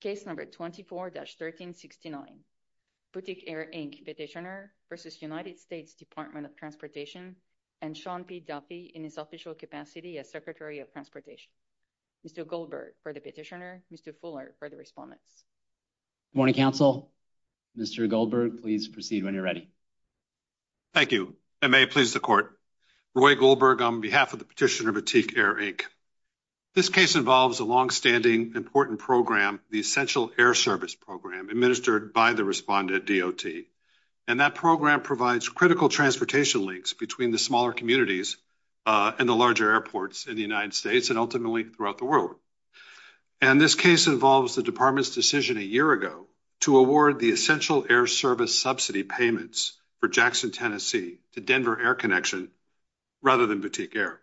Case number 24-1369, Boutique Air Inc. petitioner v. United States Department of Transportation and Sean P. Duffy in his official capacity as Secretary of Transportation. Mr. Goldberg for the petitioner, Mr. Fuller for the respondents. Good morning, counsel. Mr. Goldberg, please proceed when you're ready. Thank you. I may please the court. Roy Goldberg on behalf of the petitioner Boutique Air Inc. This case involves a long-standing important program, the Essential Air Service Program, administered by the respondent DOT. And that program provides critical transportation links between the smaller communities and the larger airports in the United States and ultimately throughout the world. And this case involves the department's decision a year ago to award the Essential Air Service subsidy payments for Jackson, Tennessee to Denver Air Connection rather than Boutique Air.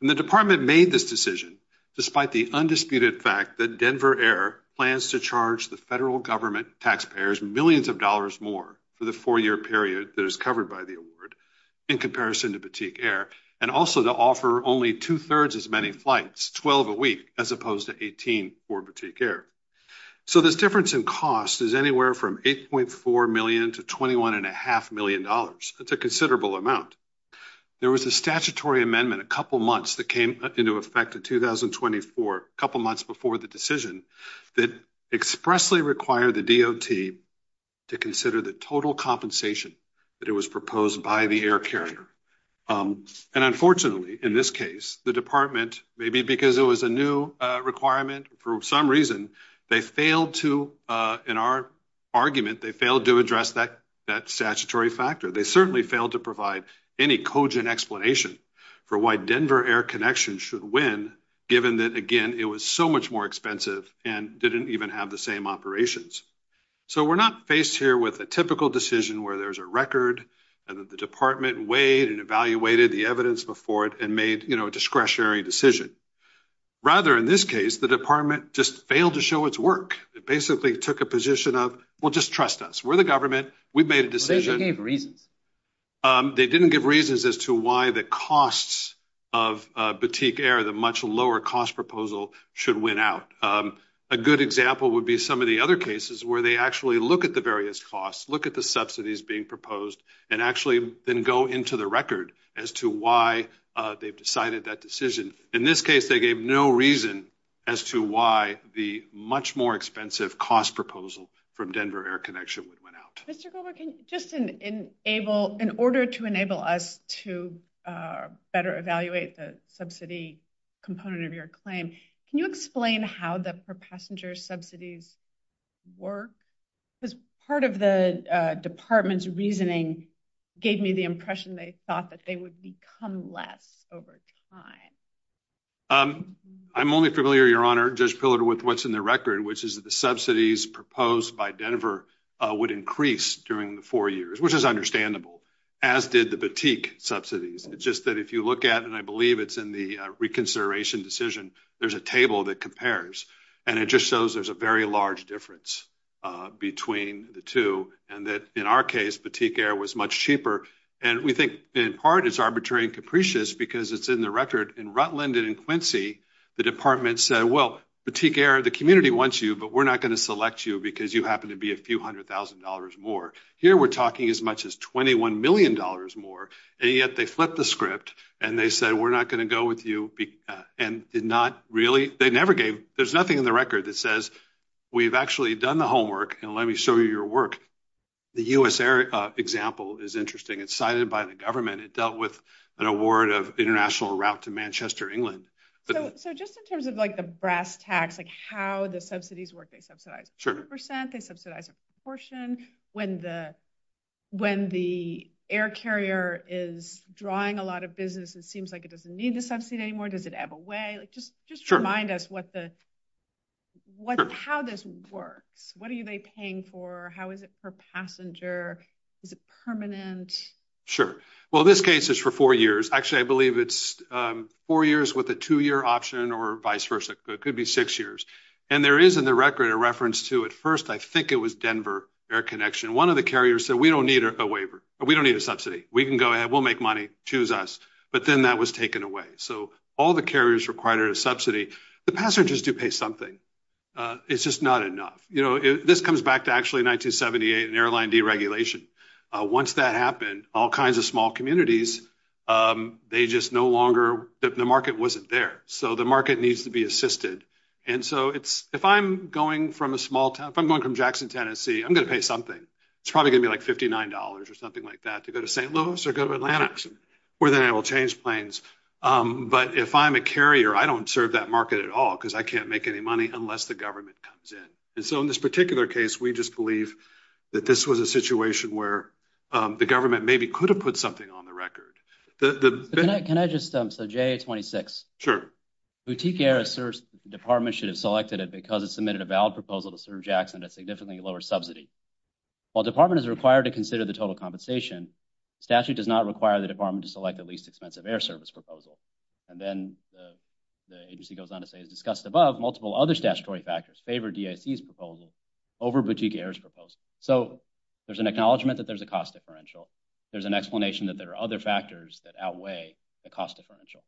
And the department made this decision despite the undisputed fact that Denver Air plans to charge the federal government taxpayers millions of dollars more for the four-year period that is covered by the award in comparison to Boutique Air and also to offer only two-thirds as many flights, 12 a week, as opposed to 18 for Boutique Air. So this difference in cost is anywhere from 8.4 million to 21 and a half million dollars. That's a considerable amount. There was a statutory amendment a couple months that came into effect in 2024, a couple months before the decision, that expressly required the DOT to consider the total compensation that it was proposed by the air carrier. And unfortunately, in this case, the department, maybe because it was a new requirement for some reason, they failed to, in our argument, they failed to address that statutory factor. They certainly failed to provide any explanation for why Denver Air Connection should win, given that, again, it was so much more expensive and didn't even have the same operations. So we're not faced here with a typical decision where there's a record and that the department weighed and evaluated the evidence before it and made, you know, a discretionary decision. Rather, in this case, the department just failed to show its work. It basically took a position of, well, just trust us. We're the government. We've made a decision. They gave reasons. They didn't give reasons as to why the costs of Batik Air, the much lower cost proposal, should win out. A good example would be some of the other cases where they actually look at the various costs, look at the subsidies being proposed, and actually then go into the record as to why they've decided that decision. In this case, they gave no reason as to why the much more expensive cost proposal from Denver Air Connection would win out. Just in able, in order to enable us to better evaluate the subsidy component of your claim, can you explain how the per passenger subsidies work? Because part of the department's reasoning gave me the impression they thought that they would become less over time. Um, I'm only familiar, Your Honor, Judge Pillar with what's in the record, which is that the subsidies proposed by Denver would increase during the four years, which is understandable, as did the Batik subsidies. It's just that if you look at, and I believe it's in the reconsideration decision, there's a table that compares, and it just shows there's a very large difference between the two, and that in our case, Batik Air was much cheaper, and we think in part it's arbitrary and capricious because it's in the record. In Rutland and in Quincy, the department said, well, Batik Air, the community wants you, but we're not going to select you because you happen to be a few hundred thousand dollars more. Here we're talking as much as 21 million dollars more, and yet they flipped the script, and they said we're not going to go with you, and did not really, they never gave, there's nothing in the record that says we've actually done the homework, and let me show you your work. The US Air example is interesting. It's cited by the government. It dealt with an award of international route to Manchester, England. So just in terms of like the brass tacks, like how the subsidies work, they subsidize a percent, they subsidize a proportion. When the air carrier is drawing a lot of business, it seems like it doesn't need the subsidy anymore. Does it have a way? Just remind us how this works. What are they paying for? How is it per passenger? Is it permanent? Sure. Well, this case is for four years. Actually, I believe it's four years with a two-year option or vice versa. It could be six years, and there is in the record a reference to, at first, I think it was Denver Air Connection. One of the carriers said we don't need a waiver. We don't need a subsidy. We can go ahead. We'll make money. Choose us, but then that was taken away. So all the carriers required a subsidy. The passengers do pay something. It's just not enough. You know, this comes back to actually 1978 and airline deregulation. Once that happened, all kinds of small communities, they just no longer, the market wasn't there. So the market needs to be assisted, and so if I'm going from Jackson, Tennessee, I'm going to pay something. It's probably gonna be like $59 or something like that to go to St. Louis or go to Atlanta, where then I will change planes, but if I'm a carrier, I don't serve that market at all because I can't make any money unless the government comes in, and so in this particular case, we just believe that this was a situation where the government maybe could have put something on the record. Can I just, so AIA-26. Sure. Boutique Air asserts the department should have selected it because it submitted a valid proposal to serve Jackson at significantly lower subsidy. While department is required to consider the total compensation, statute does not require the department to select the least expensive air service proposal, and then the agency goes on to say, as discussed above, multiple other statutory factors favor DAC's proposal over Boutique Air's proposal. So there's an acknowledgment that there's a cost differential. There's an explanation that there are other factors that outweigh the cost differential.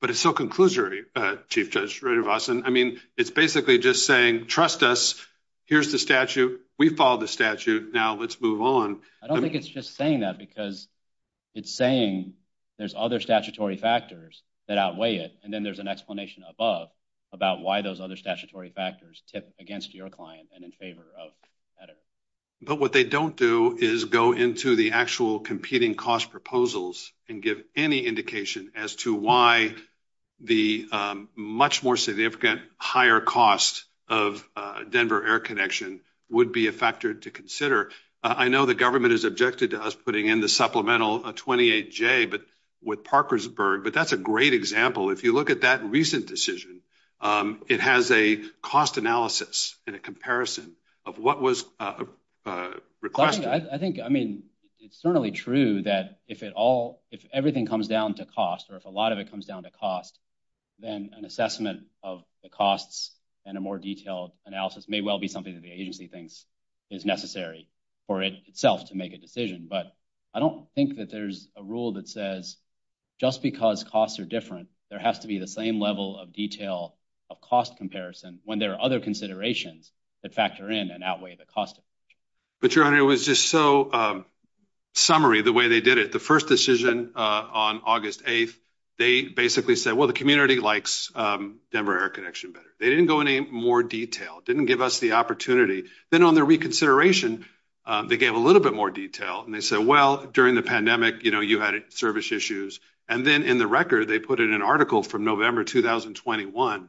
But it's so conclusory, Chief Judge Radovastan. I mean, it's basically just saying, trust us. Here's the statute. We followed the statute. Now let's move on. I don't think it's just saying that because it's saying there's other statutory factors that outweigh it, and then there's an explanation above about why those other statutory factors tip against your client and in favor of better. But what they don't do is go into the actual competing cost proposals and give any indication as to why the much more significant higher cost of Denver Air Connection would be a factor to consider. I know the government is objected to us putting in the supplemental 28 J. But with Parkersburg, but that's a great example. If you look at that recent decision, it has a cost analysis in a comparison of what was, uh, requested. I think I mean, it's certainly true that if it all if everything comes down to cost or if a lot of it comes down to cost, then an assessment of the costs and a more detailed analysis may well be something that the agency thinks is necessary for it itself to make a decision. But I don't think that there's a rule that says just because costs are different, there has to be the same level of detail of cost comparison when there are other considerations that factor in and outweigh the cost. But your honor, it was just so, um, summary the way they did it. The first decision on August 8th, they basically said, well, the community likes, um, Denver Air Connection better. They didn't go in a more detail, didn't give us the opportunity. Then on their reconsideration, they gave a little bit more detail and they said, well, during the pandemic, you know, you had service issues and then in the record, they put it in an article from November 2021.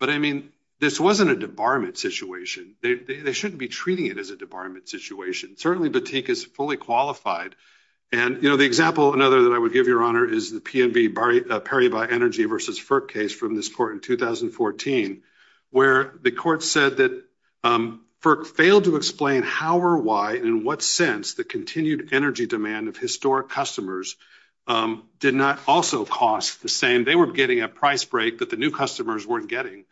But I mean, this wasn't a debarment situation. They shouldn't be treating it as a debarment situation. Certainly Batik is fully qualified. And, you know, the example another that I would give your honor is the PNV Perry by Energy versus FERC case from this court in 2014, where the court said that FERC failed to explain how or why in what sense the continued energy demand of historic customers, um, did not also cost the same. They were getting a price break that the new customers weren't getting.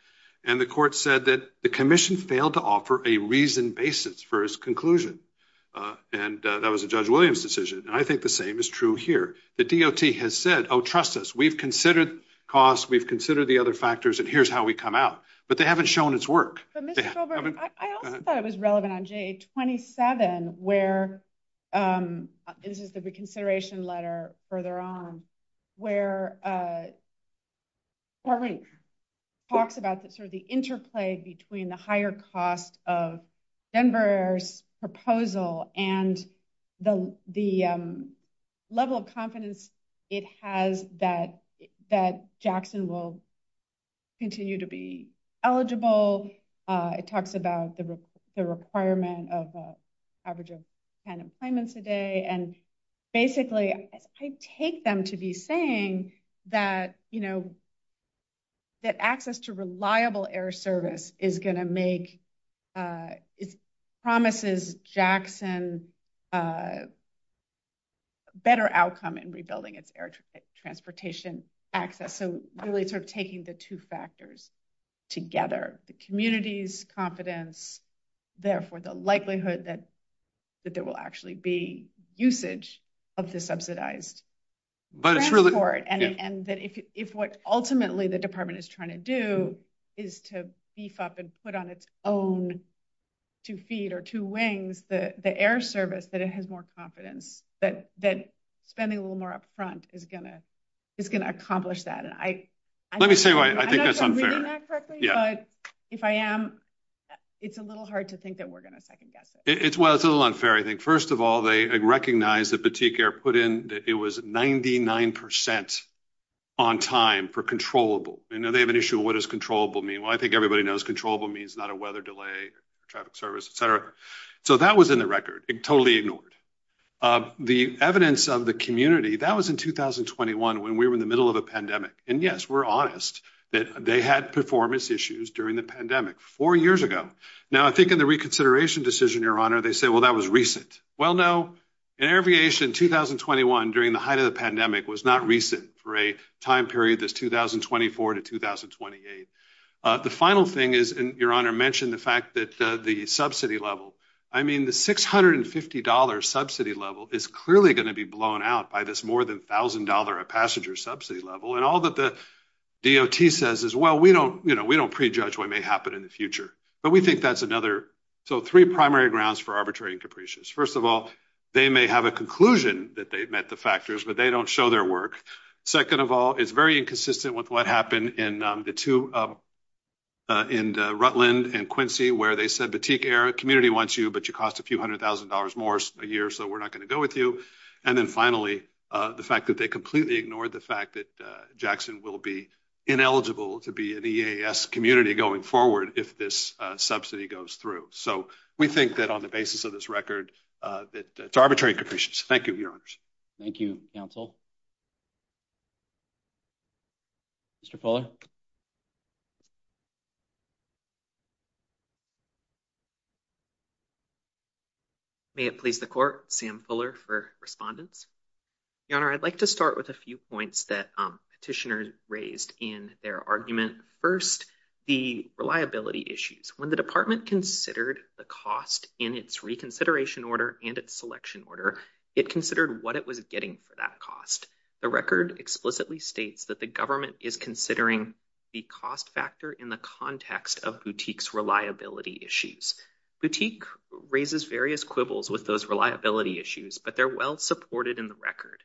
And the court said that the commission failed to offer a reasoned basis for his conclusion. Uh, and that was a Judge Williams decision. And I think the same is true here. The D. O. T. Has said, Oh, trust us. We've considered cost. We've considered the other factors, and here's how we come out. But they haven't shown its work. I also thought it was relevant on a 27 where, um, this is the reconsideration letter further on where, uh, already talks about the sort of the interplay between the higher cost of Denver's proposal and the level of confidence it has that that Jackson will continue to be eligible. Uh, it talks about the requirement of average of 10 employments a day. And basically, I take them to be saying that, you that access to reliable air service is gonna make, uh, promises Jackson, uh, better outcome in rebuilding its air transportation access. So really sort of taking the two factors together, the community's confidence, therefore, the likelihood that that there will actually be usage of the subsidized but it's really for it. And that if what ultimately the department is trying to do is to beef up and put on its own to feed or two wings, the air service that it has more confidence that that spending a little more up front is gonna is gonna accomplish that. And I let me say why I think that's unfair. But if I am, it's a little hard to think that we're gonna second guess it. It's well, it's a little unfair. I think, first of all, they recognize the boutique air put in. It was 99% on time for controllable. You know, they have an issue. What is controllable mean? Well, I think everybody knows controllable means not a weather delay, traffic service, etcetera. So that was in the record. It totally ignored. Uh, the evidence of the community that was in 2021 when we were in the middle of a pandemic. And yes, we're honest that they had performance issues during the pandemic four years ago. Now, I think in the reconsideration decision, your honor, they say, well, that was recent. Well, no, an aviation 2021 during the height of the pandemic was not recent for a time period. This 2024 to 2028. Uh, the final thing is, and your honor mentioned the fact that the subsidy level, I mean, the $650 subsidy level is clearly gonna be blown out by this more than $1000 a passenger subsidy level. And all that the D. O. T. Says is, well, we don't, you know, we don't prejudge what may happen in the future, but we think that's another. So three primary grounds for arbitrary and capricious. First of all, they may have a conclusion that they've met the factors, but they don't show their work. Second of all, it's very inconsistent with what happened in the two, uh, uh, in Rutland and Quincy, where they said Batik air community wants you, but you cost a few $100,000 more a year. So we're not gonna go with you. And then finally, the fact that they completely ignored the fact that Jackson will be ineligible to be in the A. S. Community going forward if this subsidy goes through. So we think that on the basis of this record, uh, that it's arbitrary conditions. Thank you, Your Honors. Thank you, Council. Thank you. Mr Pollard. May it please the court? Sam Fuller for respondents. Your Honor, I'd like to start with a few points that petitioners raised in their argument. First, the reliability issues when the department considered the cost in its reconsideration order and its selection order, it considered what it was getting for that cost. The record explicitly states that the government is considering the cost factor in the context of boutiques. Reliability issues. Boutique raises various quibbles with those reliability issues, but they're well supported in the record.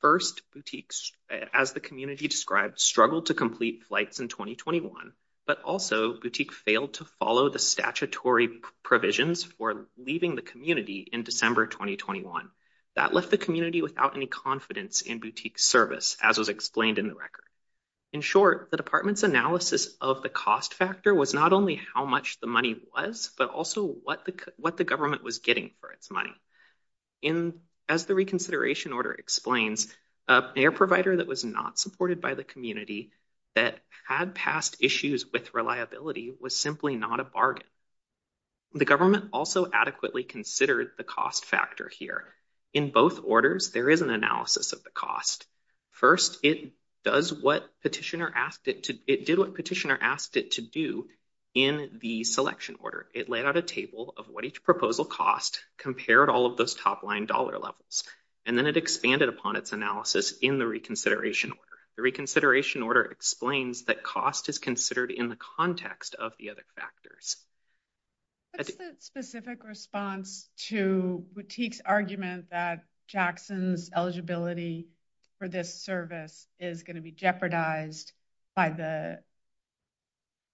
First boutiques, as the community described, struggled to complete flights in 2021. But also boutique failed to follow the statutory provisions for leaving the community in December 2021. That left the community without any confidence in boutique service, as was explained in the record. In short, the department's analysis of the cost factor was not only how much the money was, but also what the what the government was getting for its money. In as the reconsideration order explains, a provider that was not supported by the community that had past issues with reliability was simply not a bargain. The government also adequately considered the cost factor here. In both orders, there is an analysis of the cost. First, it does what petitioner asked it to. It did what petitioner asked it to do in the selection order. It laid out a table of what each proposal cost, compared all of those top line dollar levels, and then it expanded upon its analysis in the reconsideration order. The reconsideration order explains that cost is considered in the context of the other factors. That's the specific response to boutique's argument that Jackson's eligibility for this service is going to be jeopardized by the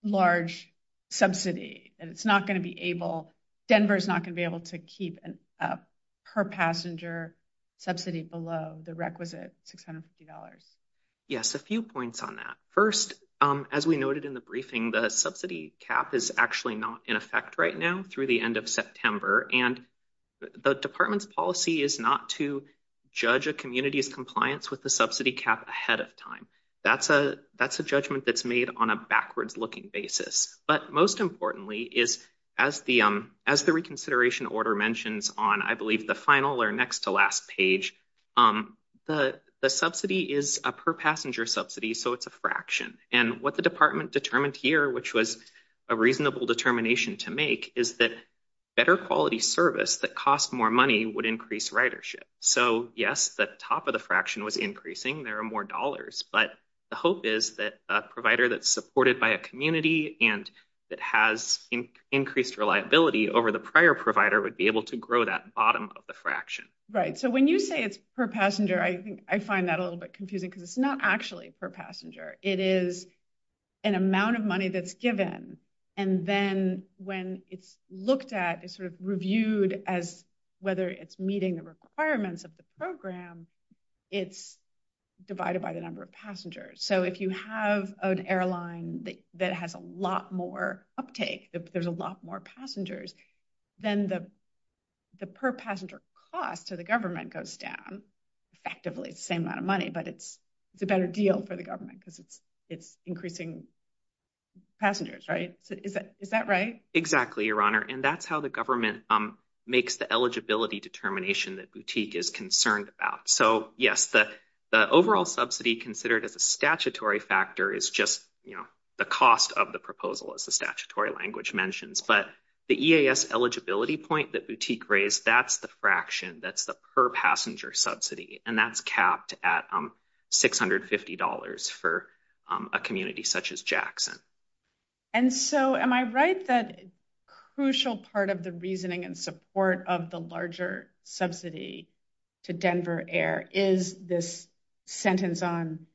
large subsidy, and it's not going to be able Denver is not gonna be able to keep her passenger subsidy below the requisite $650. Yes, a few points on that. First, as we noted in the briefing, the subsidy cap is actually not in effect right now through the end of September, and the department's policy is not to judge a community's compliance with the subsidy cap ahead of time. That's a that's a judgment that's made on a backwards looking basis. But most importantly is, as the as the reconsideration order mentions on, I believe the final or next to last page, the subsidy is a per passenger subsidy, so it's a fraction. And what the department determined here, which was a reasonable determination to make, is that better quality service that cost more money would increase ridership. So yes, the top of the fraction was increasing. There are more dollars, but the hope is that a provider that's supported by a community and that has increased reliability over the prior provider would be able to grow that bottom of the fraction, right? So when you say it's per passenger, I think I find that a little bit confusing because it's not actually per passenger. It is an amount of money that's given, and then when it's looked at, it's sort of reviewed as whether it's meeting the requirements of the program, it's divided by the number of passengers. So if you have an airline that has a lot more uptake, there's a lot more passengers, then the per passenger cost to the money, but it's a better deal for the government because it's increasing passengers, right? Is that right? Exactly, Your Honor, and that's how the government makes the eligibility determination that Boutique is concerned about. So yes, the overall subsidy considered as a statutory factor is just the cost of the proposal, as the statutory language mentions. But the EAS eligibility point that Boutique raised, that's the fraction, that's the per passenger subsidy, and that's capped at $650 for a community such as Jackson. And so am I right that a crucial part of the reasoning and support of the larger subsidy to Denver Air is this sentence in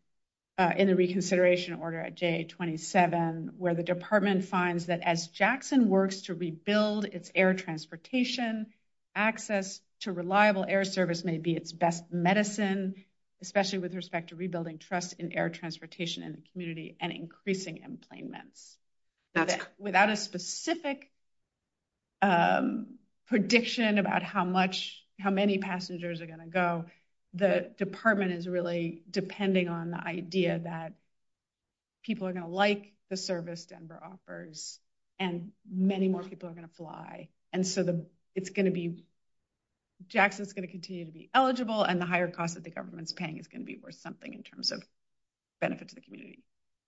the reconsideration order at J27, where the department finds that as Jackson works to rebuild its air transportation, access to reliable air service may be its best medicine, especially with respect to rebuilding trust in air transportation in the community and increasing employment. Without a specific prediction about how many passengers are going to go, the department is really depending on the idea that people are going to like the service Denver offers, and many more people are going to fly. And so Jackson's going to continue to be eligible, and the higher cost that the government's paying is going to be worth something in terms of benefit to the community.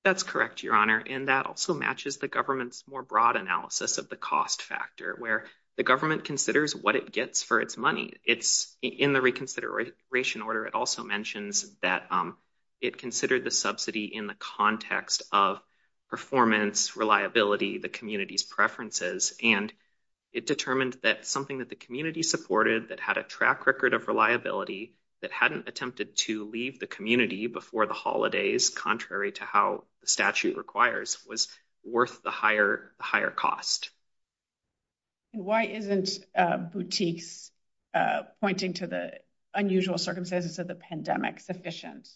That's correct, Your Honor, and that also matches the government's more broad analysis of the cost factor, where the government considers what it gets for its money. In the reconsideration order, it also mentions that it considered the subsidy in the context of performance, reliability, the community's preferences, and it determined that something that the community supported, that had a track record of reliability, that hadn't attempted to leave the community before the holidays, contrary to how the statute requires, was worth the higher cost. Why isn't Boutique's pointing to the unusual circumstances of the pandemic sufficient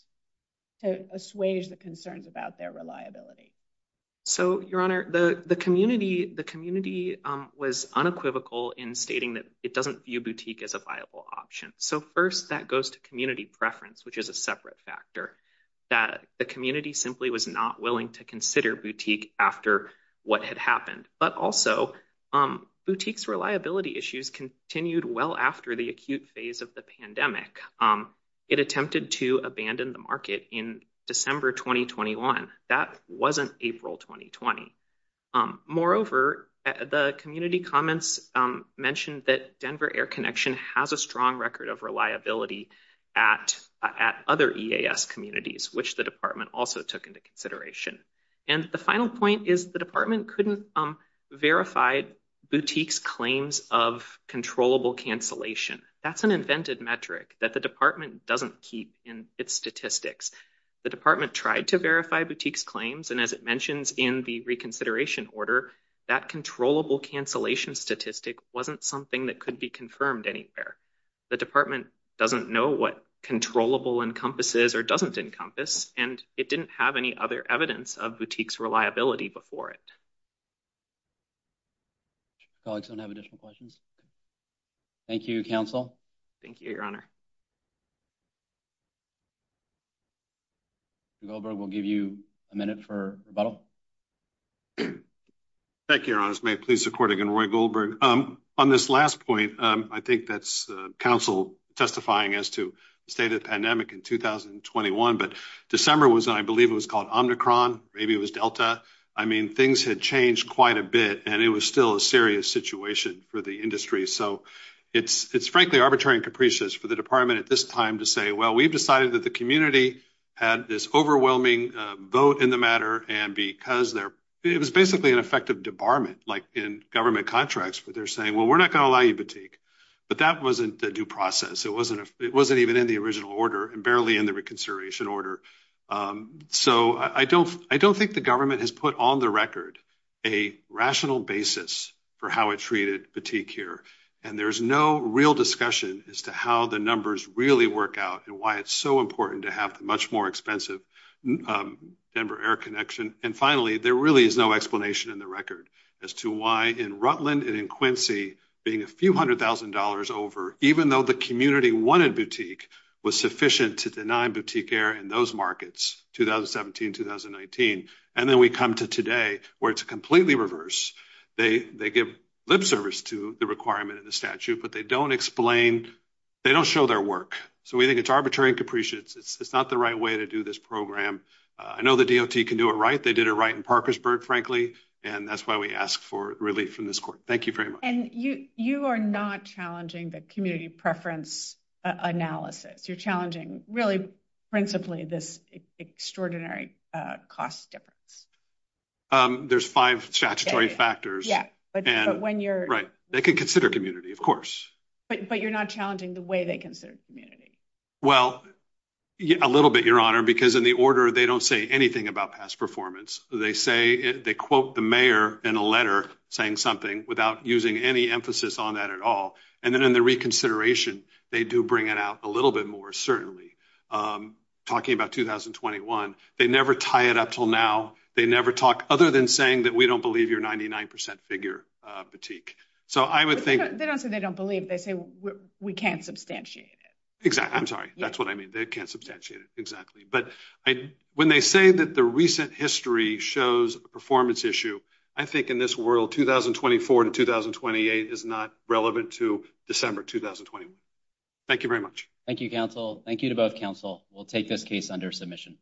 to assuage the concerns about their reliability? So, Your Honor, the community was unequivocal in stating that it doesn't view Boutique as a viable option. So first, that goes to community preference, which is a separate factor, that the community simply was not willing to consider Boutique after what had happened. But also, Boutique's reliability issues continued well after the acute phase of the pandemic. It attempted to abandon the market in December 2021. That wasn't April 2020. Moreover, the community comments mentioned that Denver Air Connection has a strong record of reliability at other EAS communities, which the department also took into consideration. And the final point is the department couldn't verify Boutique's claims of controllable cancellation. That's an invented metric that the department doesn't keep in its statistics. The department tried to verify Boutique's claims, and as it mentions in the reconsideration order, that controllable cancellation statistic wasn't something that could be confirmed anywhere. The department doesn't know what controllable encompasses or doesn't encompass, and it didn't have any other evidence of Boutique's reliability before it. Colleagues don't have additional questions. Thank you, Council. Thank you, Your Honor. Goldberg will give you a minute for rebuttal. Thank you, Your Honor. May it please the court again? Roy Goldberg. Um, on this last point, I think that's council testifying as to the state of pandemic in 2021. But December was, I believe it was called Omnicron. Maybe it was Delta. I mean, things had changed quite a bit, and it was still a serious situation for the industry. So it's frankly arbitrary and capricious for the department at this time to say, Well, we've decided that the community had this overwhelming vote in the matter. And because there it was basically an effective debarment, like in government contracts, where they're saying, Well, we're not gonna allow you Boutique. But that wasn't the due process. It wasn't. It wasn't even in the original order and barely in the reconsideration order. Um, so I don't I don't think the government has put on the record a rational basis for how it treated boutique here. And there's no real discussion as to how the numbers really work out and why it's so important to have much more expensive, um, Denver air connection. And finally, there really is no explanation in the record as to why in Rutland and in Quincy, being a few $100,000 over, even though the community wanted boutique was sufficient to deny boutique air in those markets 2017 2019. And then we come to today where it's completely reverse. They give lip service to the requirement of the statute, but they don't explain. They don't show their work. So we think it's arbitrary and capricious. It's not the right way to do this program. I know the D. O. T. Can do it right. They did it right in Parkersburg, frankly, and that's why we asked for relief from this court. Thank you very much. And you you are not challenging the community preference analysis. You're challenging really principally this extraordinary cost difference. Um, there's five statutory factors, but when you're right, they could consider community, of course, but you're not challenging the way they consider community. Well, a little bit, Your Honor, because in the order, they don't say anything about past performance. They say they quote the mayor in a letter saying something without using any emphasis on that at all. And then in the reconsideration, they do bring it out a little bit more. Certainly, um, talking about 2021, they never tie it up till now. They never talk other than saying that we don't believe you're 99% figure fatigue. So I would think they don't say they don't believe. They say we can't substantiate it. Exactly. I'm sorry. That's what I mean. They can't substantiate it. Exactly. But when they say that the recent history shows performance issue, I think in this world, 2024 to 2028 is not relevant to December 2021. Thank you very much. Thank you, Counsel. Thank you to both counsel. We'll take this case under submission.